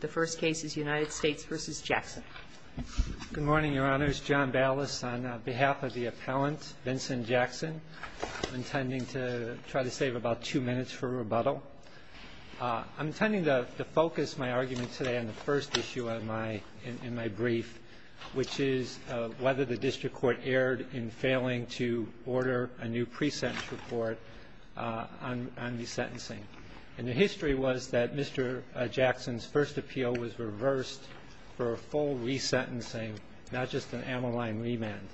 The first case is United States v. Jackson. Good morning, Your Honors. John Ballas on behalf of the appellant, Vincent Jackson, I'm intending to try to save about two minutes for rebuttal. I'm intending to focus my argument today on the first issue in my brief, which is whether the district court erred in failing to order a new pre-sentence report on the sentencing. And the history was that Mr. Jackson's first appeal was reversed for a full resentencing, not just an amyline remand.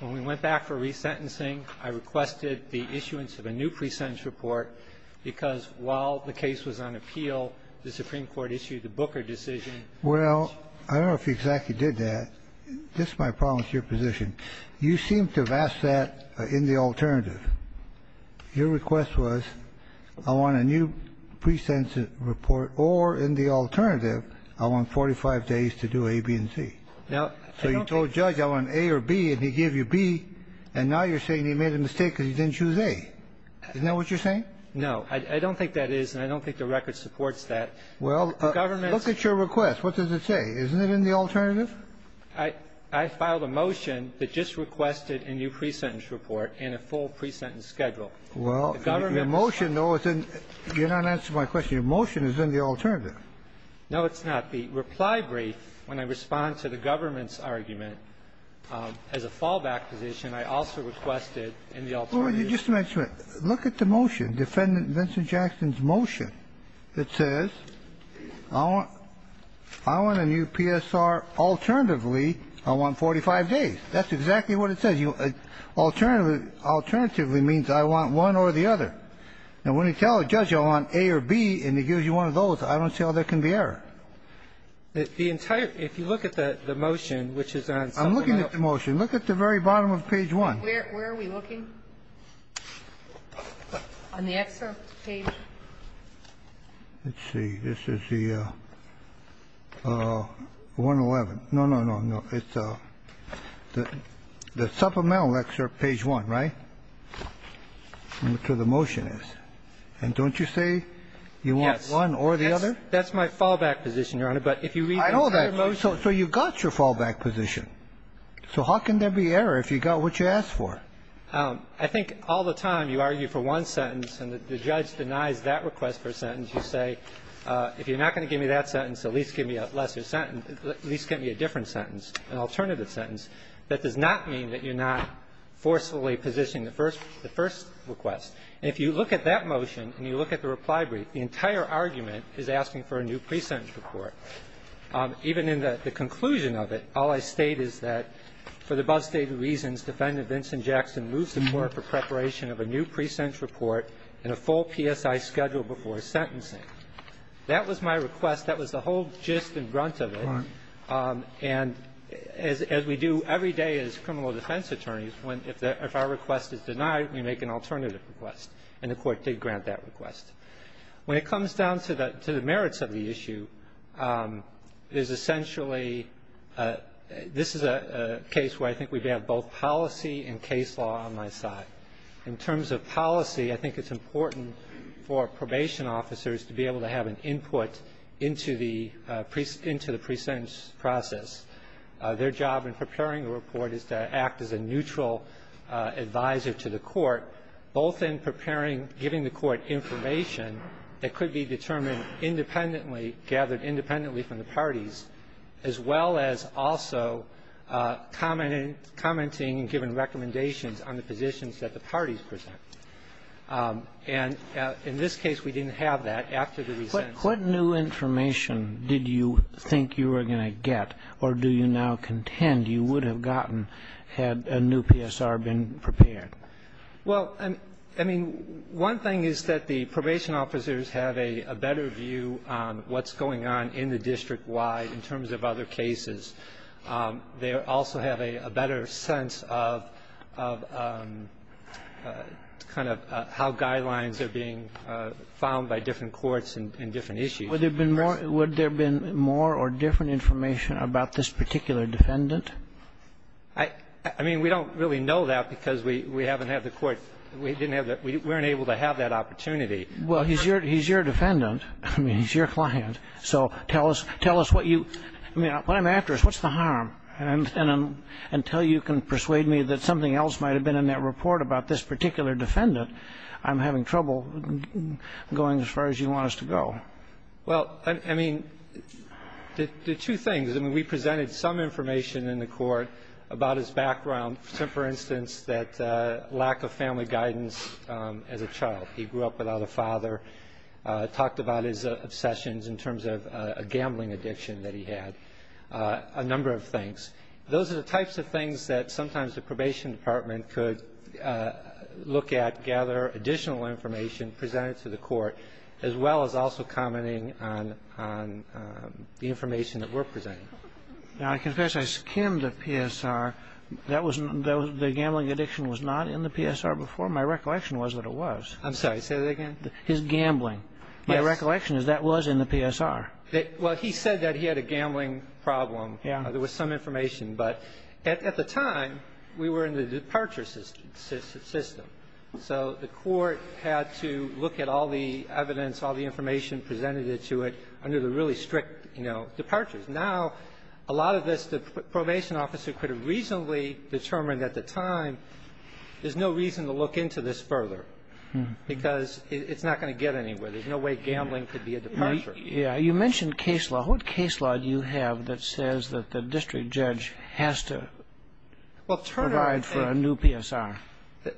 When we went back for resentencing, I requested the issuance of a new pre-sentence report because while the case was on appeal, the Supreme Court issued the Booker decision. Well, I don't know if you exactly did that. This is my problem with your position. You seem to have asked that in the alternative. Your request was I want a new pre-sentence report or in the alternative, I want 45 days to do A, B, and C. Now, I don't think you're saying you made a mistake because you didn't choose A. Isn't that what you're saying? No. I don't think that is, and I don't think the record supports that. Well, look at your request. What does it say? Isn't it in the alternative? I filed a motion that just requested a new pre-sentence report and a full pre-sentence schedule. Well, your motion, though, is in the alternative. You're not answering my question. Your motion is in the alternative. No, it's not. The reply brief, when I respond to the government's argument as a fallback position, I also requested in the alternative. Well, just a minute. Look at the motion, Defendant Vincent Jackson's motion that says I want a new PSR alternatively, I want 45 days. That's exactly what it says. Alternatively means I want one or the other. Now, when you tell a judge I want A or B and he gives you one of those, I don't see how there can be error. If you look at the motion, which is on somewhere else. I'm looking at the motion. Look at the very bottom of page 1. Where are we looking? On the excerpt page. Let's see. This is the 111. No, no, no, no. It's the supplemental excerpt page 1, right, to the motion is. And don't you say you want one or the other? That's my fallback position, Your Honor. But if you read the entire motion So you got your fallback position. So how can there be error if you got what you asked for? I think all the time you argue for one sentence and the judge denies that request for a sentence. You say if you're not going to give me that sentence, at least give me a lesser sentence, at least give me a different sentence, an alternative sentence. That does not mean that you're not forcefully positioning the first request. And if you look at that motion and you look at the reply brief, the entire argument is asking for a new pre-sentence report. Even in the conclusion of it, all I state is that for the above stated reasons, Defendant Vincent Jackson moves the court for preparation of a new pre-sentence report and a full PSI schedule before sentencing. That was my request. That was the whole gist and grunt of it. And as we do every day as criminal defense attorneys, when if our request is denied, we make an alternative request. And the Court did grant that request. When it comes down to the merits of the issue, it is essentially this is a case where I think we have both policy and case law on my side. In terms of policy, I think it's important for probation officers to be able to have an input into the pre-sentence process. Their job in preparing a report is to act as a neutral advisor to the court, both in preparing, giving the court information that could be determined independently, gathered independently from the parties, as well as also commenting and giving recommendations on the positions that the parties present. And in this case, we didn't have that after the pre-sentence. What new information did you think you were going to get, or do you now contend you would have gotten had a new PSR been prepared? Well, I mean, one thing is that the probation officers have a better view on what's going on in the district-wide in terms of other cases. They also have a better sense of kind of how guidelines are being found by different courts and different issues. Would there have been more or different information about this particular defendant? I mean, we don't really know that because we haven't had the court we didn't have the we weren't able to have that opportunity. Well, he's your defendant. I mean, he's your client. So tell us what you I mean, what I'm after is what's the harm? And until you can persuade me that something else might have been in that report about this particular defendant, I'm having trouble going as far as you want us to go. Well, I mean, the two things, I mean, we presented some information in the court about his background, for instance, that lack of family guidance as a child. He grew up without a father, talked about his obsessions in terms of a gambling addiction that he had, a number of things. Those are the types of things that sometimes the probation department could look at, gather additional information, present it to the court, as well as also commenting on the information that we're presenting. Now, I confess I skimmed the PSR. That was the gambling addiction was not in the PSR before? My recollection was that it was. I'm sorry, say that again. His gambling. My recollection is that was in the PSR. Well, he said that he had a gambling problem. Yeah. There was some information. But at the time, we were in the departure system. So the court had to look at all the evidence, all the information, presented it to it under the really strict, you know, departures. Now, a lot of this, the probation officer could have reasonably determined at the time, there's no reason to look into this further. Because it's not going to get anywhere. There's no way gambling could be a departure. Yeah. You mentioned case law. What case law do you have that says that the district judge has to provide for a new PSR?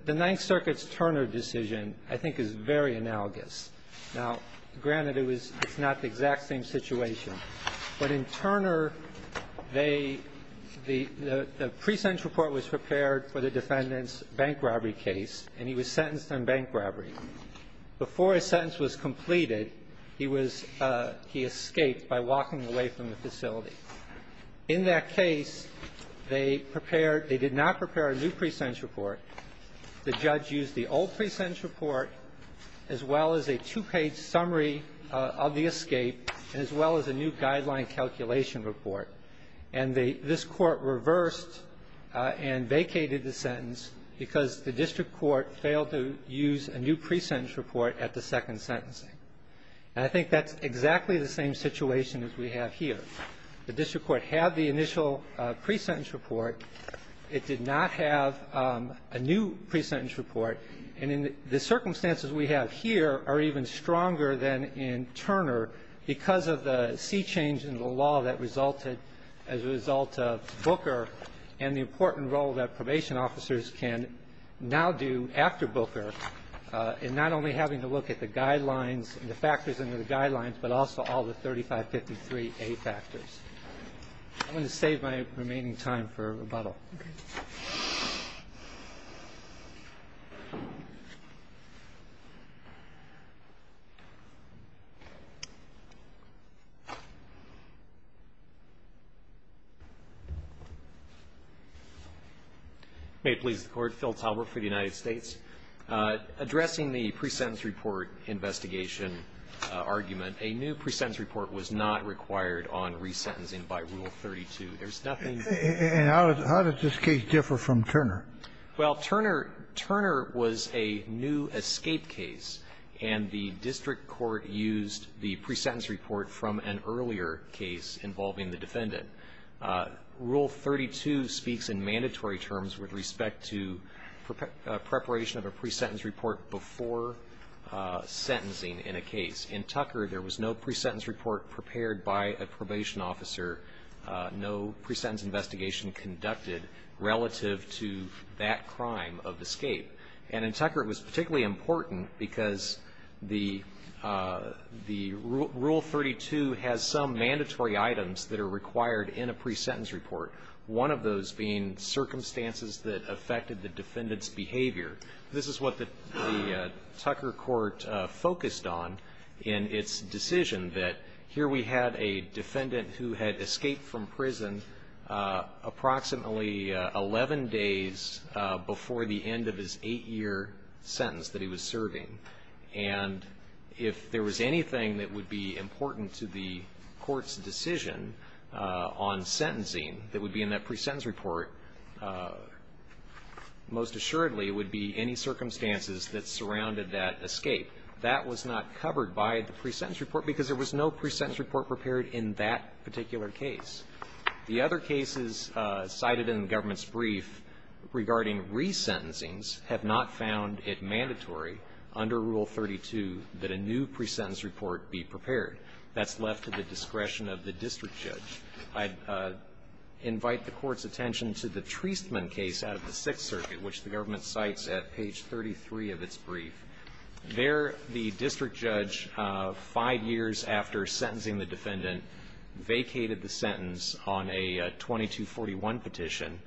The Ninth Circuit's Turner decision, I think, is very analogous. Now, granted, it's not the exact same situation. But in Turner, the pre-sentence report was prepared for the defendant's bank robbery case, and he was sentenced on bank robbery. Before his sentence was completed, he was he escaped by walking away from the facility. In that case, they prepared they did not prepare a new pre-sentence report. The judge used the old pre-sentence report, as well as a two-page summary of the escape, and as well as a new guideline calculation report. And this Court reversed and vacated the sentence because the district court failed to use a new pre-sentence report at the second sentencing. And I think that's exactly the same situation as we have here. The district court had the initial pre-sentence report. It did not have a new pre-sentence report. And the circumstances we have here are even stronger than in Turner because of the sea change in the law that resulted as a result of Booker and the important role that probation officers can now do after Booker in not only having to look at the guidelines and the factors under the guidelines, but also all the 3553A factors. I'm going to save my remaining time for rebuttal. May it please the Court. Phil Talbert for the United States. Addressing the pre-sentence report investigation argument, a new pre-sentence report was not required on resentencing by Rule 32. There's nothing new. And how does this case differ from Turner? Well, Turner was a new escape case, and the district court used the pre-sentence report from an earlier case involving the defendant. Rule 32 speaks in mandatory terms with respect to preparation of a pre-sentence report before sentencing in a case. In Tucker, there was no pre-sentence report prepared by a probation officer, no pre-sentence investigation conducted relative to that crime of escape. And in Tucker, it was particularly important because the Rule 32 has some mandatory items that are required in a pre-sentence report, one of those being circumstances that affected the defendant's behavior. This is what the Tucker court focused on in its decision that here we had a defendant who had escaped from prison approximately 11 days before the end of his eight-year sentence that he was serving. And if there was anything that would be important to the court's decision on sentencing that would be in that pre-sentence report, most assuredly would be any circumstances that surrounded that escape. That was not covered by the pre-sentence report because there was no pre-sentence report prepared in that particular case. The other cases cited in the government's brief regarding resentencings have not found it mandatory under Rule 32 that a new pre-sentence report be prepared. That's left to the discretion of the district judge. I invite the court's attention to the Treisman case out of the Sixth Circuit, which the government cites at page 33 of its brief. There the district judge, five years after sentencing the defendant, vacated the sentence on a 2241 petition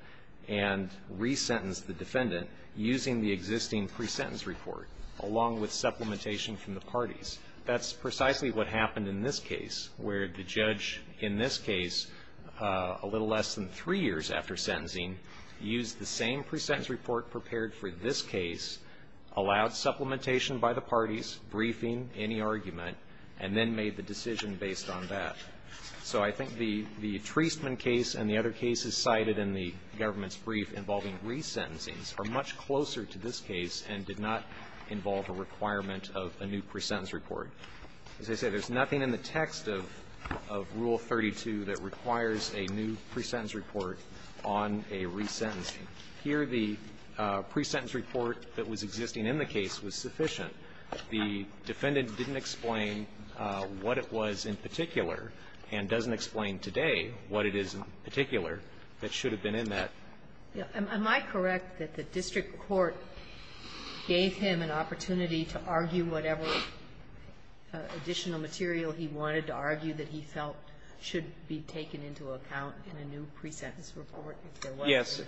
and resentenced the defendant using the existing pre-sentence report along with supplementation from the parties. That's precisely what happened in this case, where the judge in this case, a little less than three years after sentencing, used the same pre-sentence report prepared for this case, allowed supplementation by the parties, briefing any argument, and then made the decision based on that. So I think the Treisman case and the other cases cited in the government's brief involving resentencings are much closer to this case and did not involve a requirement of a new pre-sentence report. As I said, there's nothing in the text of Rule 32 that requires a new pre-sentence report on a resentencing. Here, the pre-sentence report that was existing in the case was sufficient. The defendant didn't explain what it was in particular and doesn't explain today what it is in particular that should have been in that. Am I correct that the district court gave him an opportunity to argue whatever additional material he wanted to argue that he felt should be taken into account in a new pre-sentence report? Yes.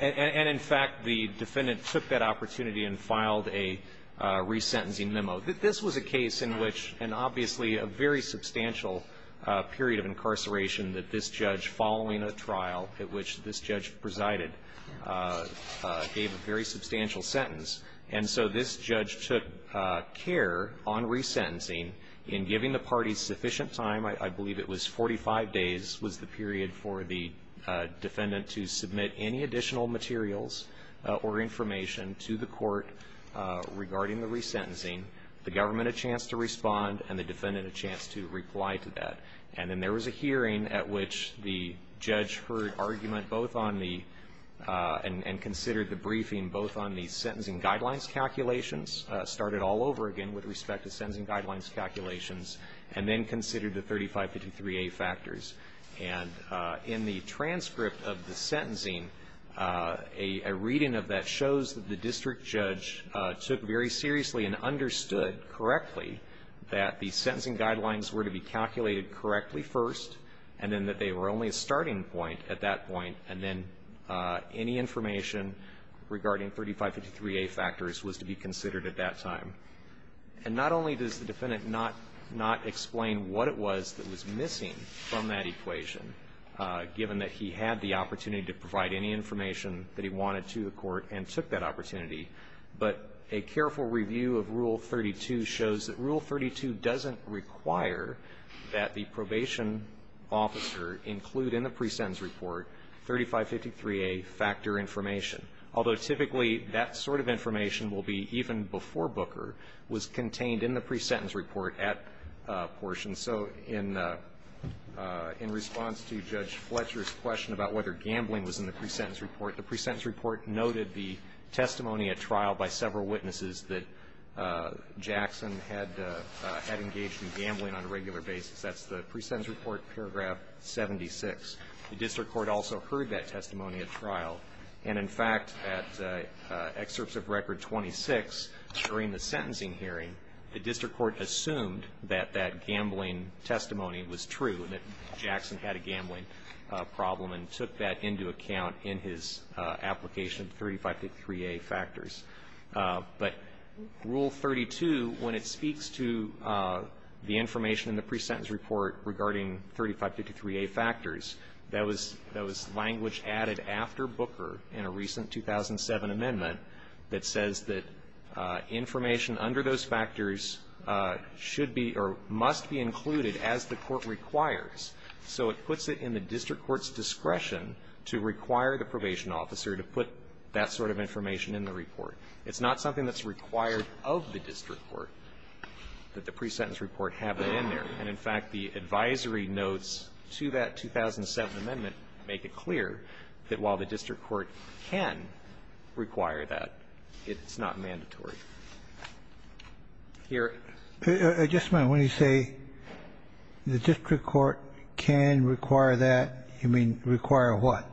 And in fact, the defendant took that opportunity and filed a resentencing memo. This was a case in which, and obviously a very substantial period of incarceration that this judge, following a trial at which this judge presided, gave a very substantial sentence. And so this judge took care on resentencing in giving the parties sufficient time. I believe it was 45 days was the period for the defendant to submit any additional materials or information to the court regarding the resentencing, the government a chance to respond, and the defendant a chance to reply to that. And then there was a hearing at which the judge heard argument both on the, and considered the briefing both on the sentencing guidelines calculations, started all over again with respect to sentencing guidelines calculations, and then considered the 3553A factors. And in the transcript of the sentencing, a reading of that shows that the district judge took very seriously and understood correctly that the sentencing guidelines were to be calculated correctly first, and then that they were only a starting point at that point, and then any information regarding 3553A factors was to be And not only does the defendant not explain what it was that was missing from that equation, given that he had the opportunity to provide any information that he wanted to the court and took that opportunity, but a careful review of Rule 32 shows that Rule 32 doesn't require that the probation officer include in the pre-sentence report 3553A factor information. Although typically that sort of information will be even before Booker was contained in the pre-sentence report at portion. So in response to Judge Fletcher's question about whether gambling was in the pre-sentence report, the pre-sentence report noted the testimony at trial by several witnesses that Jackson had engaged in gambling on a regular basis. That's the pre-sentence report, paragraph 76. The district court also heard that testimony at trial. And in fact, at excerpts of record 26, during the sentencing hearing, the district court assumed that that gambling testimony was true, that Jackson had a gambling problem and took that into account in his application, 3553A factors. But Rule 32, when it speaks to the information in the pre-sentence report regarding 3553A factors, that was language added after Booker in a recent 2007 amendment that says that information under those factors should be or must be included as the court requires. So it puts it in the district court's discretion to require the probation officer to put that sort of information in the report. It's not something that's required of the district court that the pre-sentence report have that in there. And in fact, the advisory notes to that 2007 amendment make it clear that while the district court can require that, it's not mandatory. Here. Kennedy. I just meant, when you say the district court can require that, you mean require what?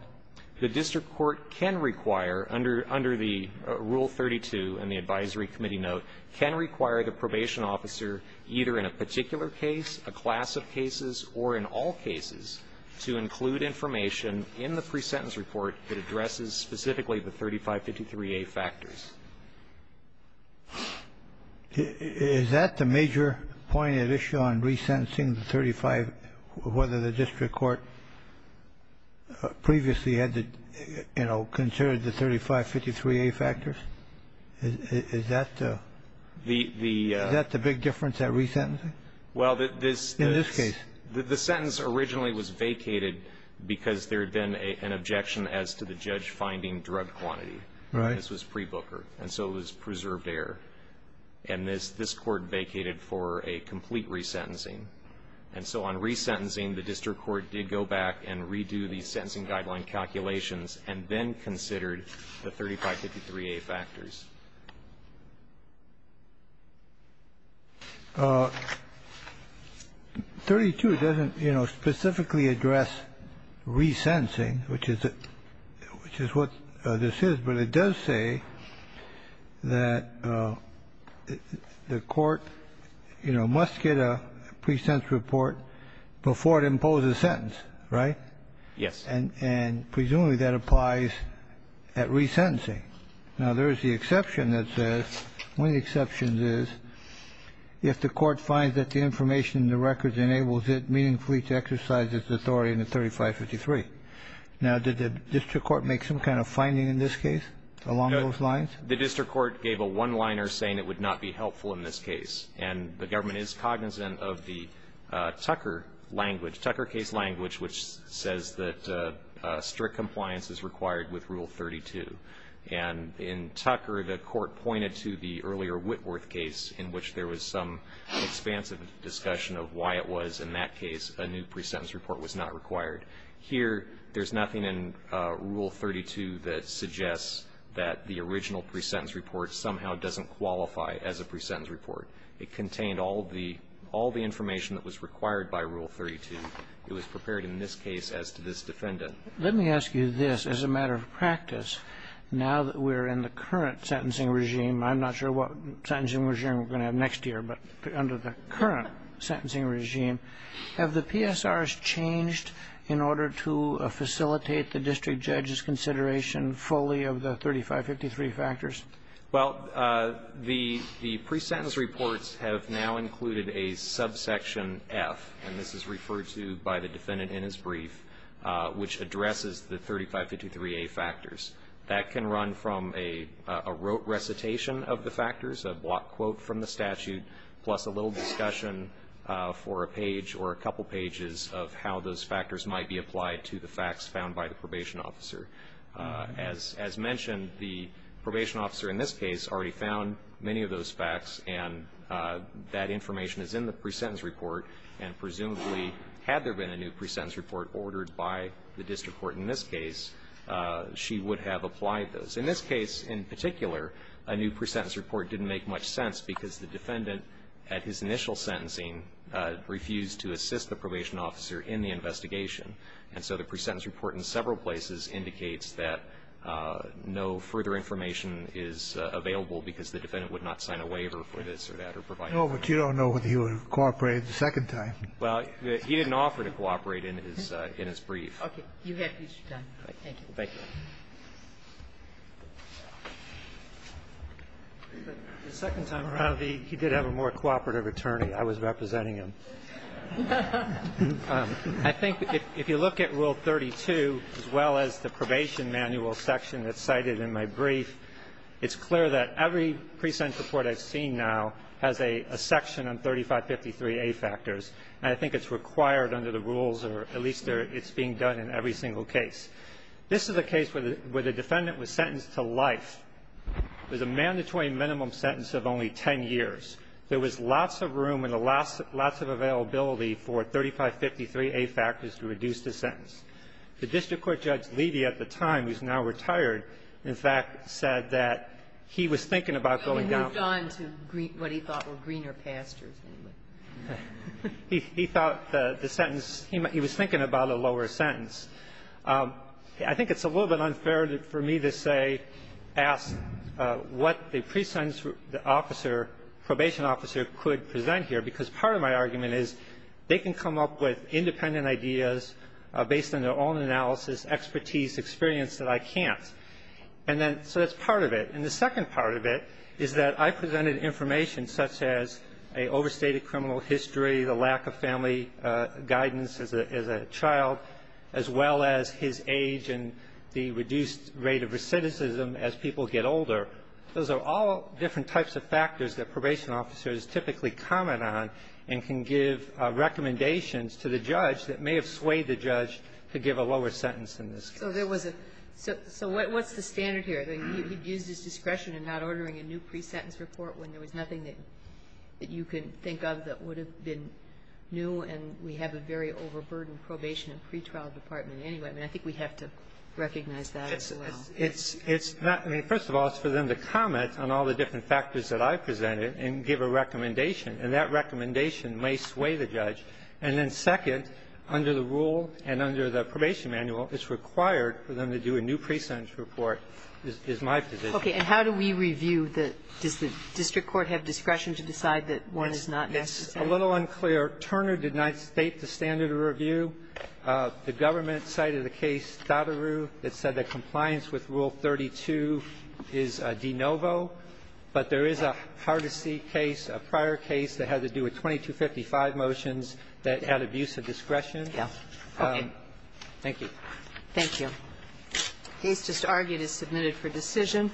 The district court can require, under the Rule 32 in the advisory committee note, can require the probation officer, either in a particular case, a class of cases, or in all cases, to include information in the pre-sentence report that addresses specifically the 3553A factors. Is that the major point at issue on re-sentencing the 35, whether the district court previously had to, you know, consider the 3553A factors? Is that the big difference at re-sentencing? Well, this the sentence originally was vacated because there had been an objection as to the judge finding drug quantity. Right. This was pre-Booker. And so it was preserved error. And this Court vacated for a complete re-sentencing. And so on re-sentencing, the district court did go back and redo the sentencing guideline calculations, and then considered the 3553A factors. 32 doesn't, you know, specifically address re-sentencing, which is what this is. But it does say that the court, you know, must get a pre-sentence report before it imposes a sentence, right? Yes. And presumably that applies at re-sentencing. Now, there is the exception that says, one of the exceptions is, if the court finds that the information in the records enables it meaningfully to exercise its authority in the 3553. Now, did the district court make some kind of finding in this case along those lines? The district court gave a one-liner saying it would not be helpful in this case. And the government is cognizant of the Tucker language, Tucker case language, which says that strict compliance is required with Rule 32. And in Tucker, the court pointed to the earlier Whitworth case in which there was some expansive discussion of why it was, in that case, a new pre-sentence report was not required. Here, there's nothing in Rule 32 that suggests that the original pre-sentence report somehow doesn't qualify as a pre-sentence report. It contained all the information that was required by Rule 32. It was prepared in this case as to this defendant. Let me ask you this, as a matter of practice, now that we're in the current sentencing regime, I'm not sure what sentencing regime we're going to have next year, but under the current sentencing regime, have the PSRs changed in order to facilitate the district judge's consideration fully of the 3553 factors? Well, the pre-sentence reports have now included a subsection F, and this is referred to by the defendant in his brief, which addresses the 3553A factors. That can run from a recitation of the factors, a block quote from the statute, plus a little discussion for a page or a couple pages of how those factors might be applied to the facts found by the probation officer. As mentioned, the probation officer in this case already found many of those facts, and that information is in the pre-sentence report, and presumably, had there been a new pre-sentence report ordered by the district court in this case, she would have applied those. In this case, in particular, a new pre-sentence report didn't make much sense, because the defendant, at his initial sentencing, refused to assist the probation officer in the investigation. And so the pre-sentence report in several places indicates that no further information is available, because the defendant would not sign a waiver for this or that or provide a waiver. No, but you don't know whether he would have cooperated the second time. Well, he didn't offer to cooperate in his brief. Okay. You have future time. Thank you. Thank you. The second time around, he did have a more cooperative attorney. I was representing him. I think if you look at Rule 32, as well as the probation manual section that's in the brief, it's clear that every pre-sentence report I've seen now has a section on 3553A factors, and I think it's required under the rules, or at least it's being done in every single case. This is a case where the defendant was sentenced to life. It was a mandatory minimum sentence of only 10 years. There was lots of room and lots of availability for 3553A factors to reduce the sentence. The district court Judge Levy at the time, who's now retired, in fact, said that he was thinking about going down to the lower sentence. He moved on to what he thought were greener pastures. He thought the sentence, he was thinking about a lower sentence. I think it's a little bit unfair for me to say, ask what the pre-sentence officer, probation officer, could present here, because part of my argument is they can come up with independent ideas based on their own analysis, expertise, experience, that I can't. And then, so that's part of it. And the second part of it is that I presented information such as a overstated criminal history, the lack of family guidance as a child, as well as his age and the reduced rate of recidivism as people get older. Those are all different types of factors that probation officers typically comment on and can give recommendations to the judge that may have swayed the judge to give a lower sentence in this case. So there was a so what's the standard here? He used his discretion in not ordering a new pre-sentence report when there was nothing that you can think of that would have been new, and we have a very overburdened probation and pretrial department anyway. I mean, I think we have to recognize that as well. It's not. I mean, first of all, it's for them to comment on all the different factors that I presented and give a recommendation. And that recommendation may sway the judge. And then second, under the rule and under the probation manual, it's required for them to do a new pre-sentence report is my position. Okay. And how do we review the does the district court have discretion to decide that one is not necessary? Yes. A little unclear. Turner did not state the standard of review. The government cited a case, Dattaru, that said that compliance with Rule 32 is de I think it was a case that had to do with 2255 motions that had abuse of discretion. Yes. Okay. Thank you. Thank you. The case just argued is submitted for decision.